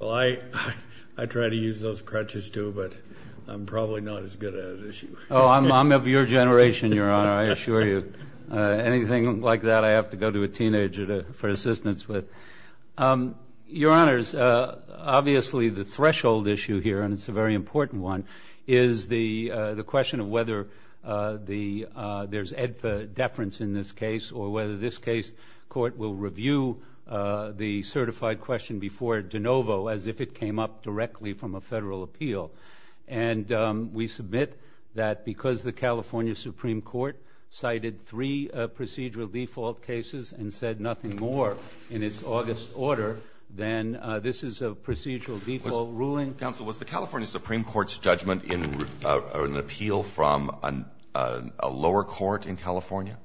Well, I try to use those crutches, too, but I'm probably not as good at it as you. Oh, I'm of your generation, Your Honor, I assure you. Anything like that I have to go to a teenager for assistance with. Your Honors, obviously the threshold issue here, and it's a very important one, is the question of whether there's EDFA deference in this case or whether this case court will review the certified question before de novo as if it came up directly from a federal appeal. And we submit that because the California Supreme Court cited three procedural default cases and said nothing more in its August order, then this is a procedural default ruling. Alito Was the California Supreme Court's judgment in an appeal from a lower court in California?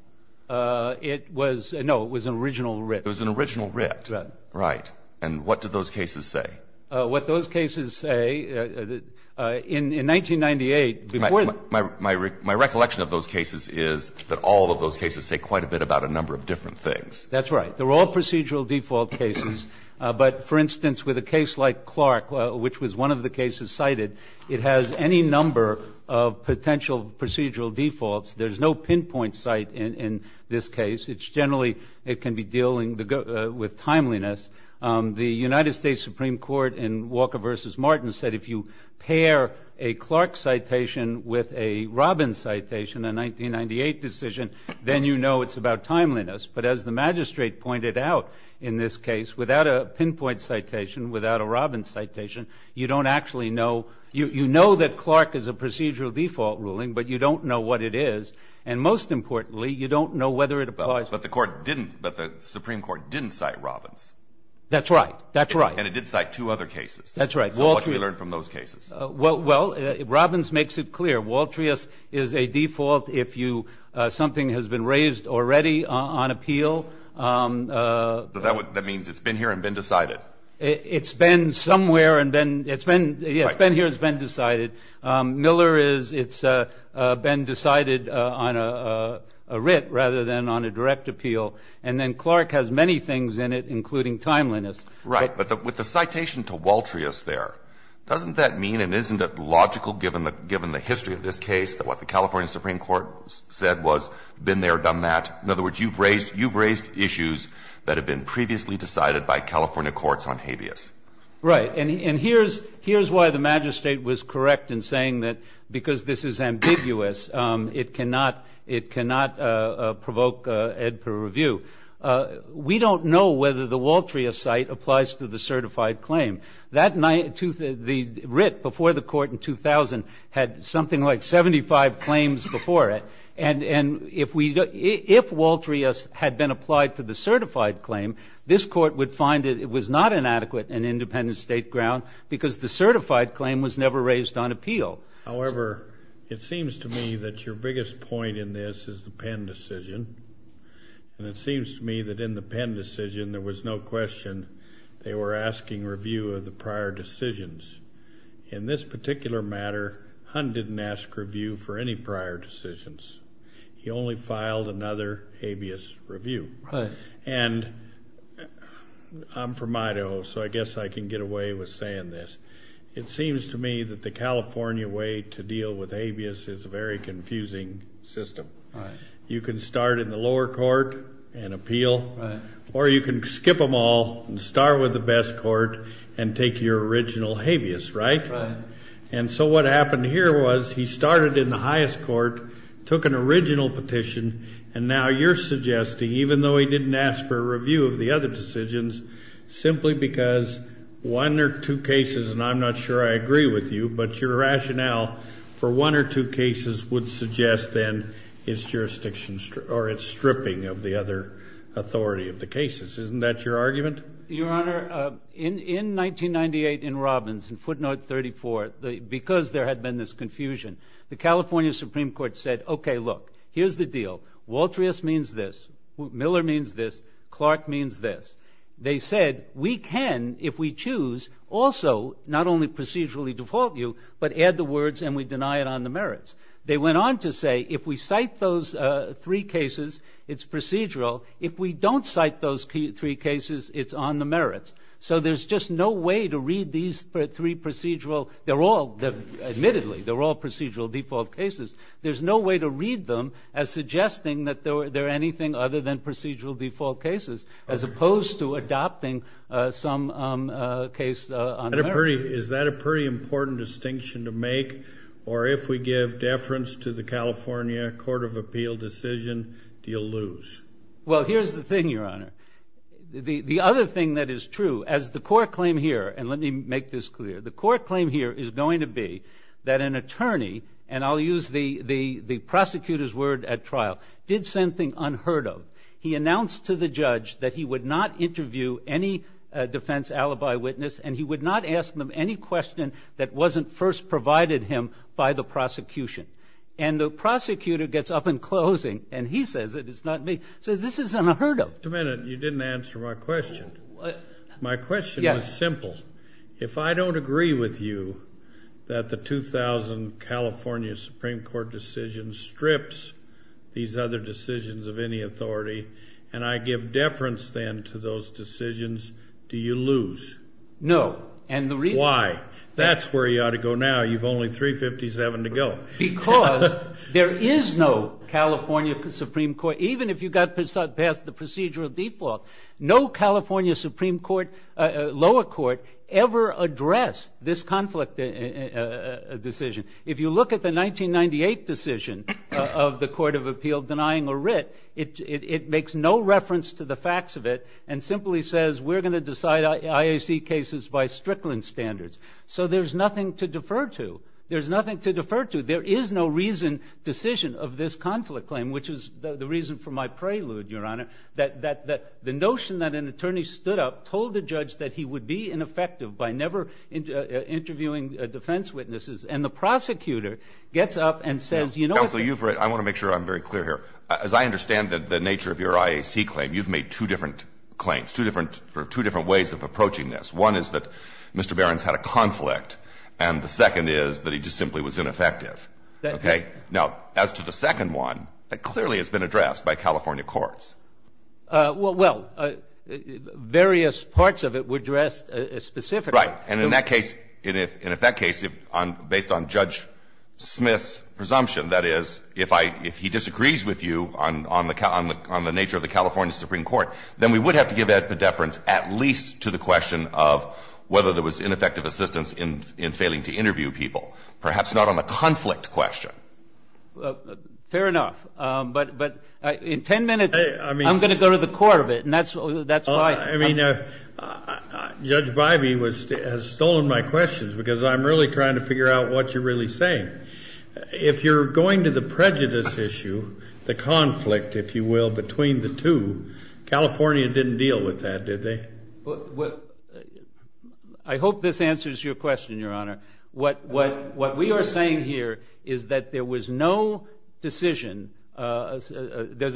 It was no, it was an original writ. It was an original writ. Right. And what did those cases say? What those cases say, in 1998, before the My recollection of those cases is that all of those cases say quite a bit about a number of different things. That's right. They're all procedural default cases. But, for instance, with a case like Clark, which was one of the cases cited, it has any number of potential procedural defaults. There's no pinpoint site in this case. It's generally, it can be dealing with timeliness. The United States Supreme Court in Walker v. Martin said if you pair a Clark citation with a Robbins citation, a 1998 decision, then you know it's about timeliness. But as the magistrate pointed out in this case, without a pinpoint citation, without a Robbins citation, you don't actually know. You know that Clark is a procedural default ruling, but you don't know what it is. And most importantly, you don't know whether it applies. But the Supreme Court didn't cite Robbins. That's right. That's right. And it did cite two other cases. That's right. So what did we learn from those cases? Well, Robbins makes it clear. Waltrius is a default if something has been raised already on appeal. That means it's been here and been decided. It's been somewhere and it's been here and it's been decided. Miller is it's been decided on a writ rather than on a direct appeal. And then Clark has many things in it, including timeliness. Right. But with the citation to Waltrius there, doesn't that mean and isn't it logical, given the history of this case, that what the California Supreme Court said was been there, done that? In other words, you've raised issues that have been previously decided by California courts on habeas. Right. And here's why the Magistrate was correct in saying that because this is ambiguous, it cannot provoke ed per review. We don't know whether the Waltrius cite applies to the certified claim. The writ before the court in 2000 had something like 75 claims before it. And if Waltrius had been applied to the certified claim, this court would find it was not an adequate and independent state ground because the certified claim was never raised on appeal. However, it seems to me that your biggest point in this is the Penn decision. And it seems to me that in the Penn decision there was no question they were asking review of the prior decisions. In this particular matter, Hunt didn't ask review for any prior decisions. He only filed another habeas review. Right. And I'm from Idaho, so I guess I can get away with saying this. It seems to me that the California way to deal with habeas is a very confusing system. Right. You can start in the lower court and appeal. Right. Or you can skip them all and start with the best court and take your original habeas. Right. Right. And so what happened here was he started in the highest court, took an original petition, and now you're suggesting, even though he didn't ask for a review of the other decisions, simply because one or two cases, and I'm not sure I agree with you, but your rationale for one or two cases would suggest then it's stripping of the other authority of the cases. Isn't that your argument? Your Honor, in 1998 in Robbins, in footnote 34, because there had been this confusion, the California Supreme Court said, okay, look, here's the deal. Waltrius means this. Miller means this. Clark means this. They said, we can, if we choose, also not only procedurally default you, but add the words and we deny it on the merits. They went on to say, if we cite those three cases, it's procedural. If we don't cite those three cases, it's on the merits. So there's just no way to read these three procedural, they're all, admittedly, they're all procedural default cases. There's no way to read them as suggesting that they're anything other than procedural default cases, as opposed to adopting some case on the merits. Is that a pretty important distinction to make, or if we give deference to the California Court of Appeal decision, do you lose? Well, here's the thing, Your Honor. The other thing that is true, as the court claim here, and let me make this clear, the court claim here is going to be that an attorney, and I'll use the prosecutor's word at trial, did something unheard of. He announced to the judge that he would not interview any defense alibi witness and he would not ask them any question that wasn't first provided him by the prosecution. And the prosecutor gets up in closing and he says that it's not me. So this is unheard of. Wait a minute, you didn't answer my question. My question was simple. If I don't agree with you that the 2000 California Supreme Court decision strips these other decisions of any authority and I give deference then to those decisions, do you lose? No. Why? That's where you ought to go now. You've only 357 to go. Because there is no California Supreme Court, even if you got past the procedural default, no California Supreme Court, lower court, ever addressed this conflict decision. If you look at the 1998 decision of the Court of Appeal denying a writ, it makes no reference to the facts of it and simply says we're going to decide IAC cases by Strickland standards. So there's nothing to defer to. There's nothing to defer to. There is no reason, decision of this conflict claim, which is the reason for my prelude, Your Honor, that the notion that an attorney stood up, told the judge that he would be ineffective by never interviewing defense witnesses, and the prosecutor gets up and says, you know what? I want to make sure I'm very clear here. As I understand the nature of your IAC claim, you've made two different claims, two different ways of approaching this. One is that Mr. Barron's had a conflict and the second is that he just simply was ineffective. Okay? Now, as to the second one, that clearly has been addressed by California courts. Well, various parts of it were addressed specifically. And in that case, in effect case, based on Judge Smith's presumption, that is, if he disagrees with you on the nature of the California Supreme Court, then we would have to give that predeference at least to the question of whether there was ineffective assistance in failing to interview people, perhaps not on the conflict question. Fair enough. But in 10 minutes, I'm going to go to the court of it, and that's why I'm going to go to the court of it. Judge Bybee has stolen my questions because I'm really trying to figure out what you're really saying. If you're going to the prejudice issue, the conflict, if you will, between the two, California didn't deal with that, did they? I hope this answers your question, Your Honor. What we are saying here is that there was no decision. There's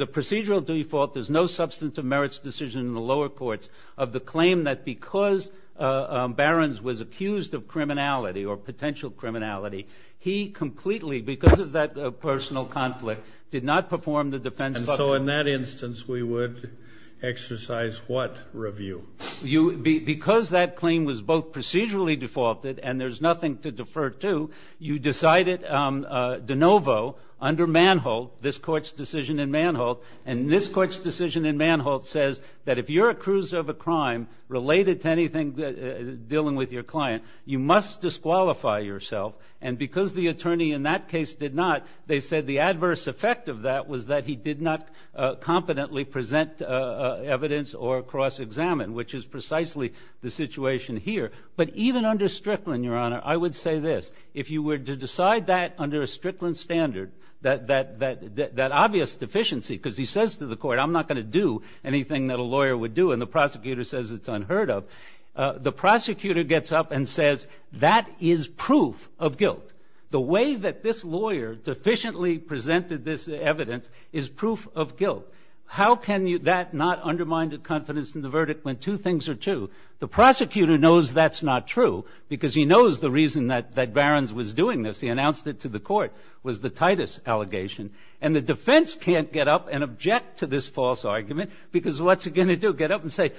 a procedural default. There's no substantive merits decision in the lower courts of the claim that because Barrons was accused of criminality or potential criminality, he completely, because of that personal conflict, did not perform the defense function. And so in that instance, we would exercise what review? Because that claim was both procedurally defaulted and there's nothing to defer to, you decided de novo under Manholt, this Court's decision in Manholt, and this Court's decision in Manholt says that if you're accused of a crime related to anything dealing with your client, you must disqualify yourself. And because the attorney in that case did not, they said the adverse effect of that was that he did not competently present evidence or cross-examine, which is precisely the situation here. But even under Strickland, Your Honor, I would say this. If you were to decide that under a Strickland standard, that obvious deficiency, because he says to the court, I'm not going to do anything that a lawyer would do, and the prosecutor says it's unheard of, the prosecutor gets up and says, that is proof of guilt. The way that this lawyer deficiently presented this evidence is proof of guilt. How can that not undermine the confidence in the verdict when two things are true? The prosecutor knows that's not true, because he knows the reason that Barron's was doing this. He announced it to the court, was the Titus allegation. And the defense can't get up and object to this false argument, because what's it going to do? Get up and say,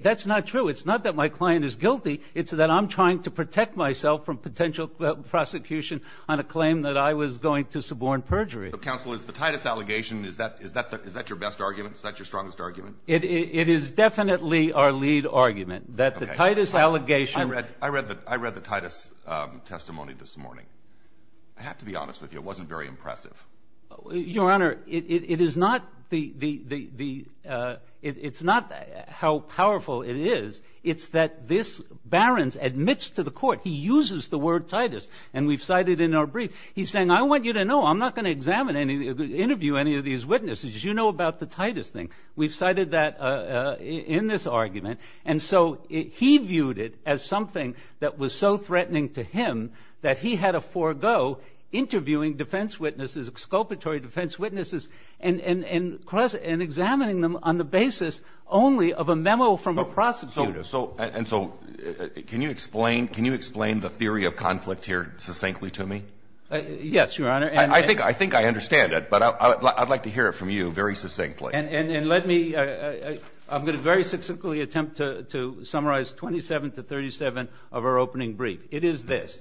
that's not true. It's not that my client is guilty. It's that I'm trying to protect myself from potential prosecution on a claim that I was going to suborn perjury. So, counsel, is the Titus allegation, is that your best argument? Is that your strongest argument? It is definitely our lead argument, that the Titus allegation. I read the Titus testimony this morning. I have to be honest with you. It wasn't very impressive. Your Honor, it is not the, it's not how powerful it is. It's that this Barron's admits to the court, he uses the word Titus, and we've cited in our brief. He's saying, I want you to know, I'm not going to examine any, interview any of these witnesses. You know about the Titus thing. We've cited that in this argument. And so he viewed it as something that was so threatening to him that he had to forego interviewing defense witnesses, exculpatory defense witnesses, and examining them on the basis only of a memo from a prosecutor. And so can you explain, can you explain the theory of conflict here succinctly to me? Yes, Your Honor. I think I understand it, but I'd like to hear it from you very succinctly. And let me, I'm going to very succinctly attempt to summarize 27 to 37 of our opening brief. It is this.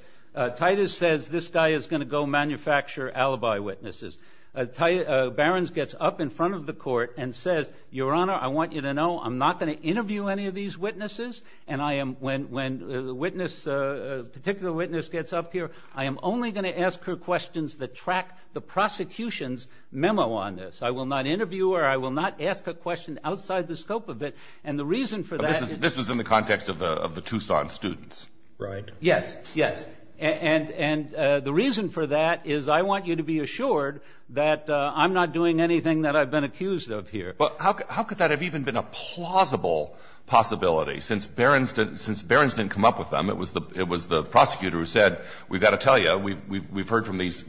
Titus says this guy is going to go manufacture alibi witnesses. Barron's gets up in front of the court and says, Your Honor, I want you to know, I'm not going to interview any of these witnesses. And I am, when a witness, a particular witness gets up here, I am only going to ask her questions that track the prosecution's memo on this. I will not interview her. I will not ask a question outside the scope of it. And the reason for that is. This was in the context of the Tucson students. Right. Yes, yes. And the reason for that is I want you to be assured that I'm not doing anything that I've been accused of here. Well, how could that have even been a plausible possibility? Since Barron's didn't come up with them, it was the prosecutor who said, we've got to tell you, we've heard from these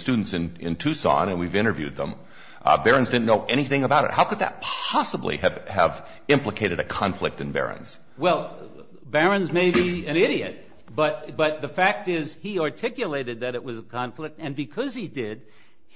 students in Tucson and we've interviewed them. Barron's didn't know anything about it. How could that possibly have implicated a conflict in Barron's? Well, Barron's may be an idiot, but the fact is he articulated that it was a conflict. And because he did,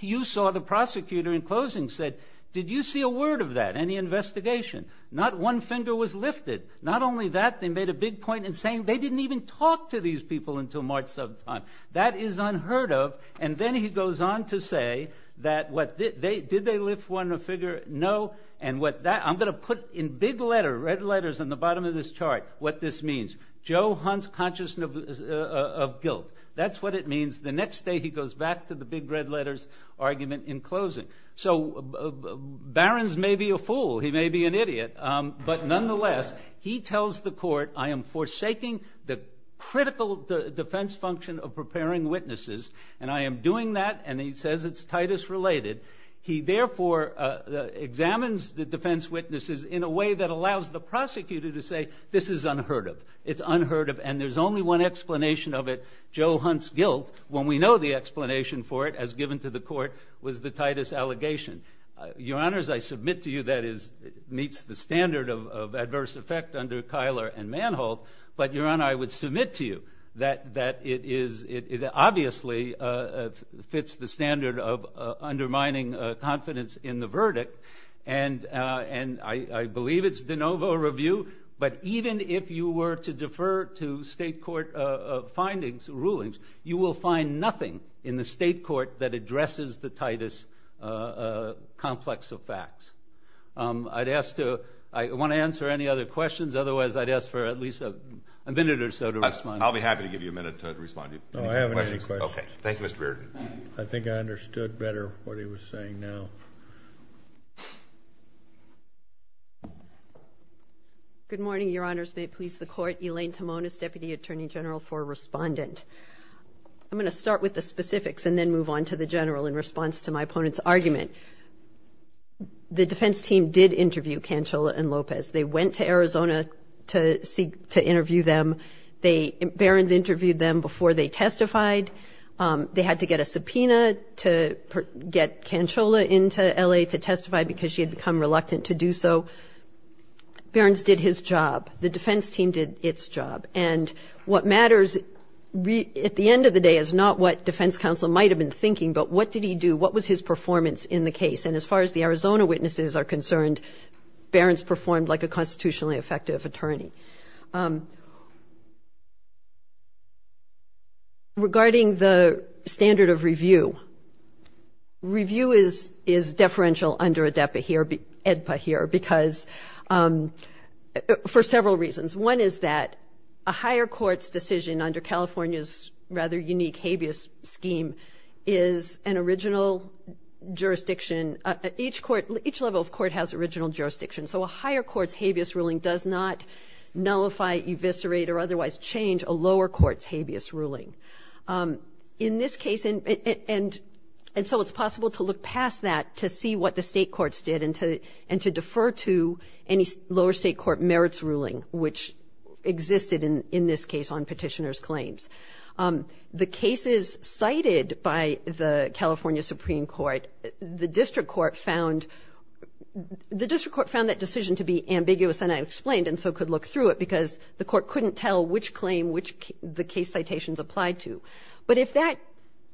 you saw the prosecutor in closing said, did you see a word of that, any investigation? Not one finger was lifted. Not only that, they made a big point in saying they didn't even talk to these people until March sometime. That is unheard of. And then he goes on to say that, did they lift one finger? No. And what that, I'm going to put in big letter, red letters on the bottom of this chart, what this means. Joe Hunt's conscious of guilt. That's what it means. The next day he goes back to the big red letters argument in closing. So Barron's may be a fool. He may be an idiot. But nonetheless, he tells the court, I am forsaking the critical defense function of preparing witnesses. And I am doing that. And he says it's Titus related. He therefore examines the defense witnesses in a way that allows the prosecutor to say, this is unheard of. It's unheard of. And there's only one explanation of it. Joe Hunt's guilt, when we know the explanation for it, as given to the court, was the Titus allegation. Your Honors, I submit to you that it meets the standard of adverse effect under Keiler and Manholt. But Your Honor, I would submit to you that it obviously fits the standard of undermining confidence in the verdict. And I believe it's de novo review. But even if you were to defer to state court findings, rulings, you will find nothing in the state court that addresses the Titus complex of facts. I'd ask to, I want to answer any other questions. Otherwise, I'd ask for at least a minute or so to respond. I'll be happy to give you a minute to respond. Any questions? No, I haven't any questions. Okay. Thank you, Mr. Reardon. I think I understood better what he was saying now. Good morning, Your Honors. May it please the Court. Elaine Timonis, Deputy Attorney General for Respondent. I'm going to start with the specifics and then move on to the general in response to my opponent's argument. The defense team did interview Cancella and Lopez. They went to Arizona to interview them. Barron's interviewed them before they testified. They had to get a subpoena to get Cancella into L.A. to testify because she had become reluctant to do so. Barron's did his job. The defense team did its job. And what matters at the end of the day is not what defense counsel might have been thinking, but what did he do? What was his performance in the case? And as far as the Arizona witnesses are concerned, Barron's performed like a constitutionally effective attorney. Regarding the standard of review, review is deferential under ADEPA here because for several reasons. One is that a higher court's decision under California's rather unique habeas scheme is an original jurisdiction. Each court, each level of court has original jurisdiction. So a higher court's habeas ruling does not nullify, eviscerate, or otherwise change a lower court's habeas ruling. In this case, and so it's possible to look past that to see what the state courts did and to defer to any lower state court merits ruling, which existed in this case on petitioner's claims. The cases cited by the California Supreme Court, the district court found that decision to be ambiguous, and I explained and so could look through it, because the court couldn't tell which claim the case citations applied to. But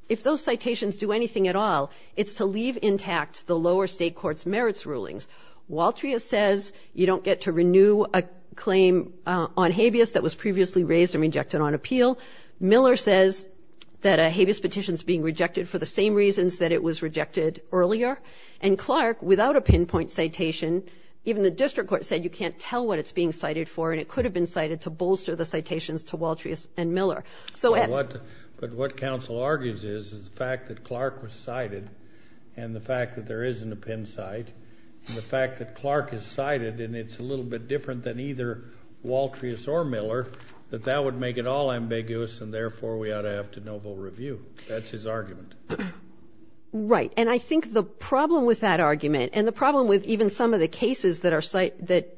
if those citations do anything at all, it's to leave intact the lower state court's merits rulings. Waltria says you don't get to renew a claim on habeas that was previously raised and rejected on appeal. Miller says that a habeas petition is being rejected for the same reasons that it was rejected earlier. And Clark, without a pinpoint citation, even the district court said you can't tell what it's being cited for, and it could have been cited to bolster the citations to Waltrias and Miller. So Ed. But what counsel argues is, is the fact that Clark was cited and the fact that there isn't a pin cite, and the fact that Clark is cited, and it's a little bit different than either Waltrias or Miller, that that would make it all ambiguous, and therefore we ought to have de novo review. That's his argument. Right. And I think the problem with that argument, and the problem with even some of the cases that are cited, that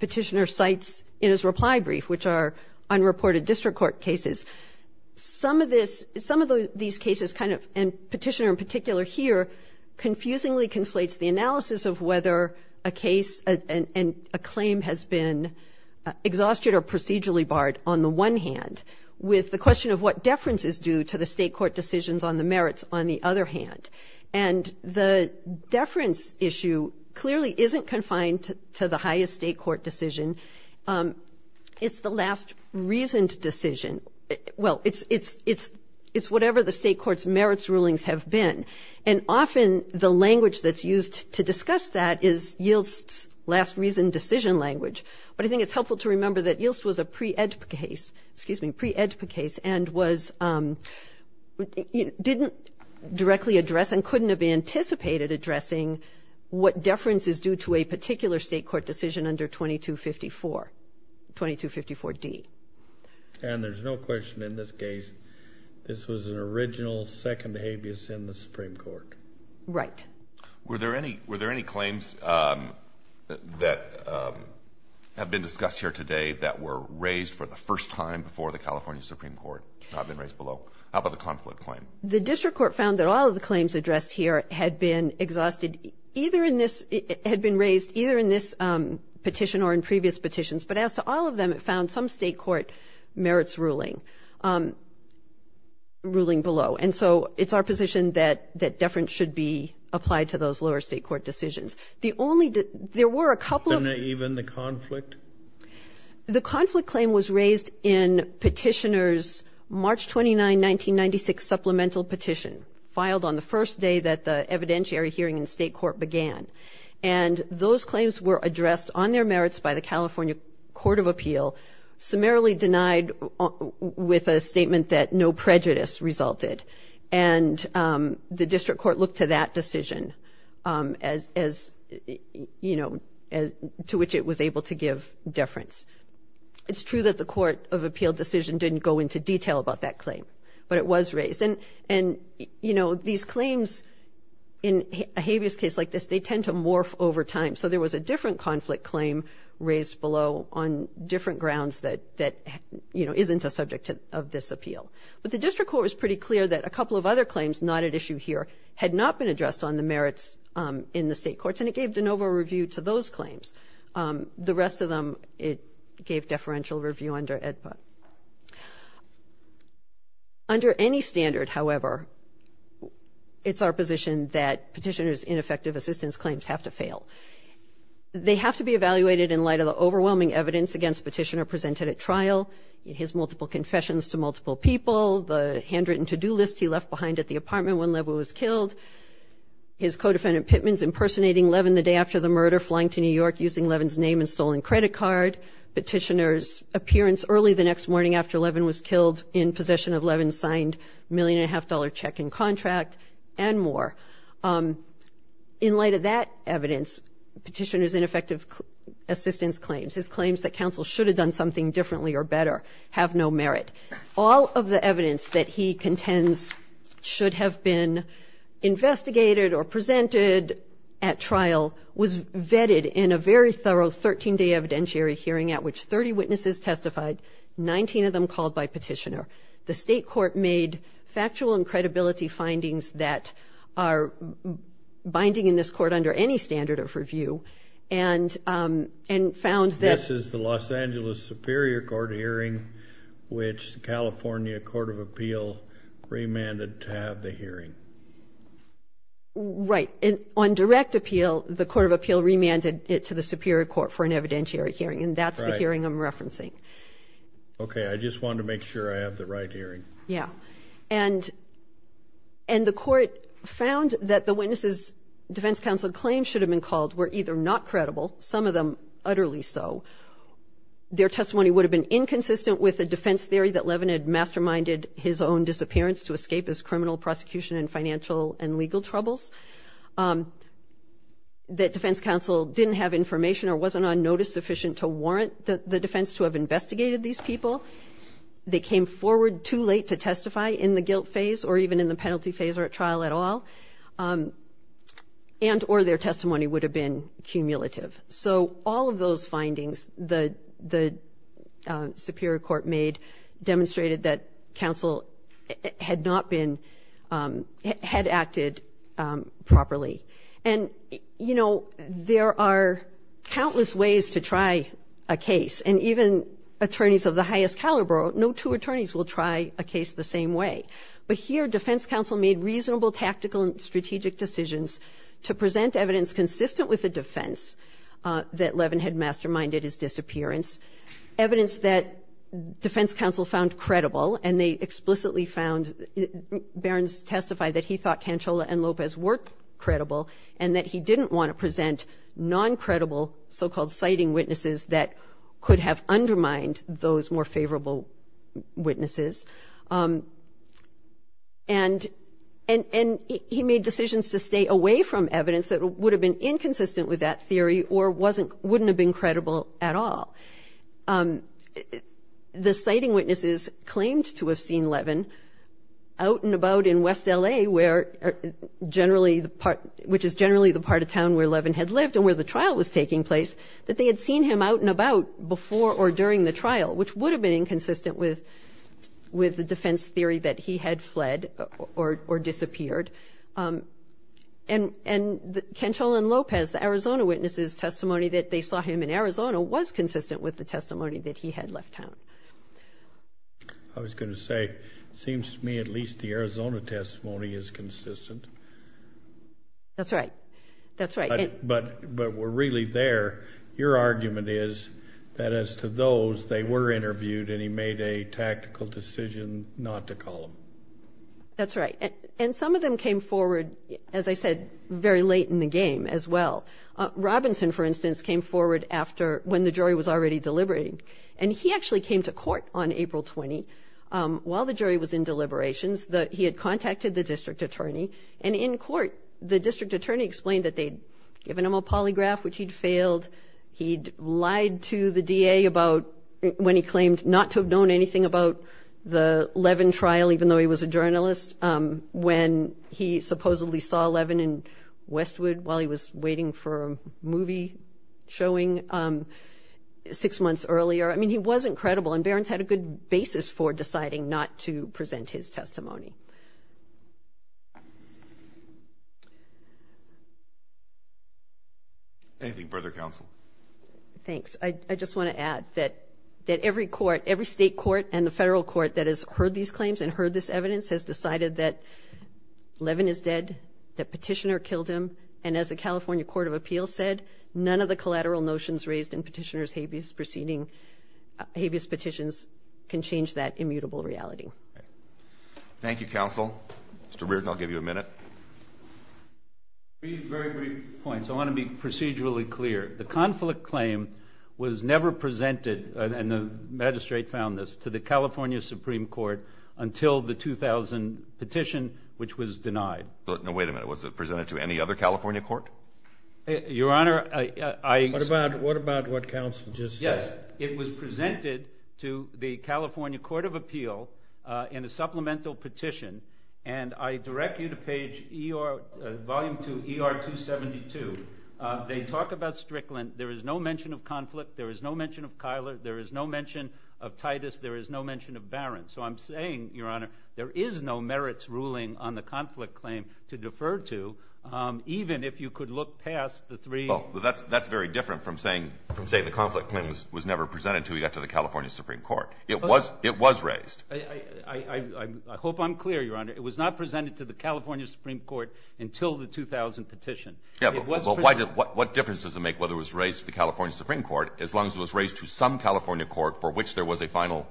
Petitioner cites in his reply brief, which are unreported district court cases, some of this, some of these cases kind of, and Petitioner in particular here, confusingly conflates the analysis of whether a case and a claim has been exhausted or procedurally barred on the one hand with the question of what deference is due to the state court decisions on the merits on the other hand. And the deference issue clearly isn't confined to the highest state court decision. It's the last reasoned decision. Well, it's whatever the state court's merits rulings have been. And often the language that's used to discuss that is YILST's last reasoned decision language. But I think it's helpful to remember that YILST was a pre-EDPA case, excuse me, pre-EDPA case, and didn't directly address and couldn't have anticipated addressing what deference is due to a particular state court decision under 2254, 2254D. And there's no question in this case, this was an original second habeas in the Supreme Court. Right. Were there any claims that have been discussed here today that were raised for the first time before the California Supreme Court have been raised below? How about the conflict claim? The district court found that all of the claims addressed here had been exhausted either in this, had been raised either in this petition or in previous petitions. But as to all of them, it found some state court merits ruling. Ruling below. And so it's our position that deference should be applied to those lower state court decisions. The only, there were a couple of. And even the conflict? The conflict claim was raised in Petitioner's March 29, 1996 supplemental petition, filed on the first day that the evidentiary hearing in state court began. And those claims were addressed on their merits by the California Court of Appeal, summarily denied with a statement that no prejudice resulted. And the district court looked to that decision as, you know, to which it was able to give deference. It's true that the Court of Appeal decision didn't go into detail about that claim, but it was raised. And, you know, these claims in a habeas case like this, they tend to morph over time. So there was a different conflict claim raised below on different grounds that, you know, isn't a subject of this appeal. But the district court was pretty clear that a couple of other claims not at issue here had not been addressed on the merits in the state courts. And it gave de novo review to those claims. The rest of them it gave deferential review under AEDPA. Under any standard, however, it's our position that petitioner's ineffective assistance claims have to fail. They have to be evaluated in light of the overwhelming evidence against petitioner presented at trial, his multiple confessions to multiple people, the handwritten to-do list he left behind at the apartment when Levin was killed, his co-defendant Pittman's impersonating Levin the day after the murder, flying to New York using Levin's name and stolen credit card, petitioner's appearance early the next morning after Levin was killed in possession of Levin's signed million and a half dollar check and contract, and more. In light of that evidence, petitioner's ineffective assistance claims, his claims that counsel should have done something differently or better have no merit. All of the evidence that he contends should have been investigated or presented at trial was vetted in a very thorough 13-day evidentiary hearing at which 30 witnesses testified, 19 of them called by petitioner. The state court made factual and credibility findings that are binding in this court under any standard of review and found that... This is the Los Angeles Superior Court hearing, which the California Court of Appeal remanded to have the hearing. Right. On direct appeal, the Court of Appeal remanded it to the Superior Court for an evidentiary hearing, and that's the hearing I'm referencing. Okay. I just wanted to make sure I have the right hearing. Yeah. And the court found that the witnesses' defense counsel claims should have been called were either not credible, some of them utterly so. Their testimony would have been inconsistent with a defense theory that Levin had masterminded his own disappearance to escape his criminal prosecution and financial and legal troubles, that defense counsel didn't have information or wasn't on notice sufficient to warrant the defense to have investigated these people. They came forward too late to testify in the guilt phase or even in the penalty phase or at trial at all, and or their testimony would have been cumulative. So all of those findings the Superior Court made demonstrated that counsel had not been, had acted properly. And, you know, there are countless ways to try a case, and even attorneys of the highest caliber, no two attorneys will try a case the same way. But here defense counsel made reasonable tactical and strategic decisions to present evidence consistent with the defense that Levin had masterminded his disappearance, evidence that defense counsel found credible, and they explicitly found, Barron's testimony testified that he thought Cancella and Lopez were credible and that he didn't want to present non-credible so-called citing witnesses that could have undermined those more favorable witnesses. And he made decisions to stay away from evidence that would have been inconsistent with that theory or wasn't, wouldn't have been credible at all. The citing witnesses claimed to have seen Levin out and about in West L.A., where generally the part, which is generally the part of town where Levin had lived and where the trial was taking place, that they had seen him out and about before or during the trial, which would have been inconsistent with the defense theory that he had fled or disappeared. And Cancella and Lopez, the Arizona witnesses' testimony that they saw him in Arizona was consistent with the testimony that he had left town. I was going to say, it seems to me at least the Arizona testimony is consistent. That's right. That's right. But, but we're really there. Your argument is that as to those, they were interviewed and he made a tactical decision not to call them. That's right. And some of them came forward, as I said, very late in the game as well. Robinson, for instance, came forward after when the jury was already deliberating and he actually came to court on April 20 while the jury was in deliberations that he had contacted the district attorney and in court the district attorney explained that they'd given him a polygraph, which he'd failed. He'd lied to the D.A. about when he claimed not to have known anything about the case and he supposedly saw Levin in Westwood while he was waiting for a movie showing six months earlier. I mean, he was incredible and Barron's had a good basis for deciding not to present his testimony. Anything further, counsel? Thanks. I just want to add that that every court, every state court and the federal court that has heard these claims and heard this that Levin is dead, that Petitioner killed him, and as the California Court of Appeals said, none of the collateral notions raised in Petitioner's habeas petitions can change that immutable reality. Thank you, counsel. Mr. Reardon, I'll give you a minute. Three very brief points. I want to be procedurally clear. The conflict claim was never presented, and the magistrate found this, to the extent that it was denied. No, wait a minute. Was it presented to any other California court? Your Honor, I... What about what counsel just said? Yes, it was presented to the California Court of Appeal in a supplemental petition, and I direct you to page ER, Volume 2, ER 272. They talk about Strickland. There is no mention of conflict. There is no mention of Kyler. There is no mention of Titus. There is no mention of Barron. So I'm saying, Your Honor, there is no merits ruling on the conflict claim to defer to, even if you could look past the three... Well, that's very different from saying the conflict claim was never presented to the California Supreme Court. It was raised. I hope I'm clear, Your Honor. It was not presented to the California Supreme Court until the 2000 petition. Yeah, but what difference does it make whether it was raised to the California Supreme Court, as long as it was raised to some California court for which there was a final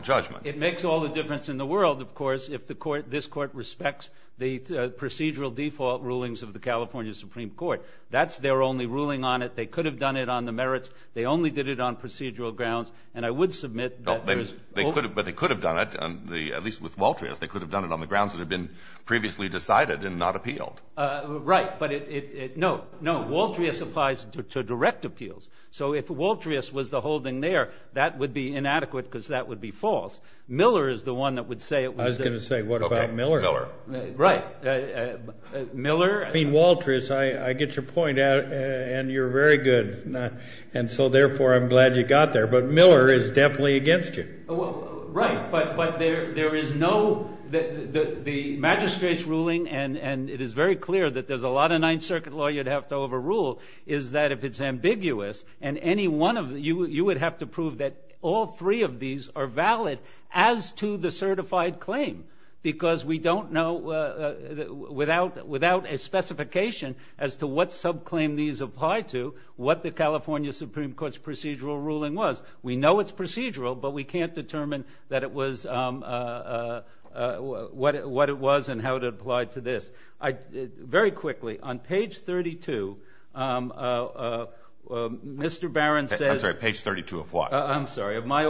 judgment? It makes all the difference in the world, of course, if this Court respects the procedural default rulings of the California Supreme Court. That's their only ruling on it. They could have done it on the merits. They only did it on procedural grounds, and I would submit that there is... But they could have done it, at least with Waltrius. They could have done it on the grounds that it had been justified to direct appeals. So if Waltrius was the holding there, that would be inadequate because that would be false. Miller is the one that would say it was... I was going to say, what about Miller? Right. Miller... I mean, Waltrius, I get your point, and you're very good, and so therefore I'm glad you got there. But Miller is definitely against you. Right, but there is no... The ninth circuit law you'd have to overrule is that if it's ambiguous, and any one of... You would have to prove that all three of these are valid as to the certified claim, because we don't know without a specification as to what subclaim these apply to, what the California Supreme Court's procedural ruling was. We know it's procedural, but we can't determine that it was... On page 32, Mr. Barron says... I'm sorry, page 32 of what? I'm sorry, of our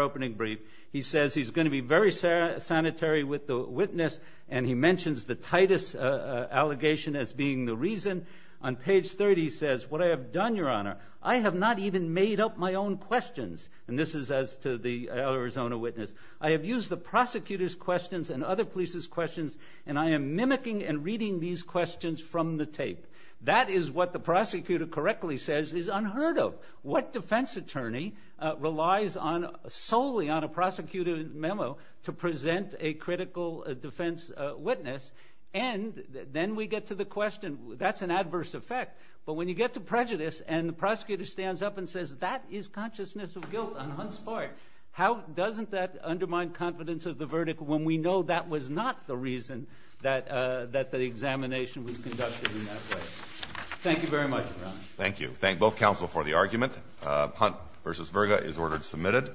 opening brief. He says he's going to be very sanitary with the witness, and he mentions the Titus allegation as being the reason. On page 30, he says, what I have done, Your Honor, I have not even made up my own questions. And this is as to the Arizona witness. I have used the from the tape. That is what the prosecutor correctly says is unheard of. What defense attorney relies solely on a prosecutor's memo to present a critical defense witness? And then we get to the question, that's an adverse effect. But when you get to prejudice, and the prosecutor stands up and says, that is consciousness of guilt on Hunt's part. How doesn't that undermine confidence of the judge to do that way? Thank you very much, Your Honor. Thank you. Thank both counsel for the argument. Hunt v. Virga is ordered submitted.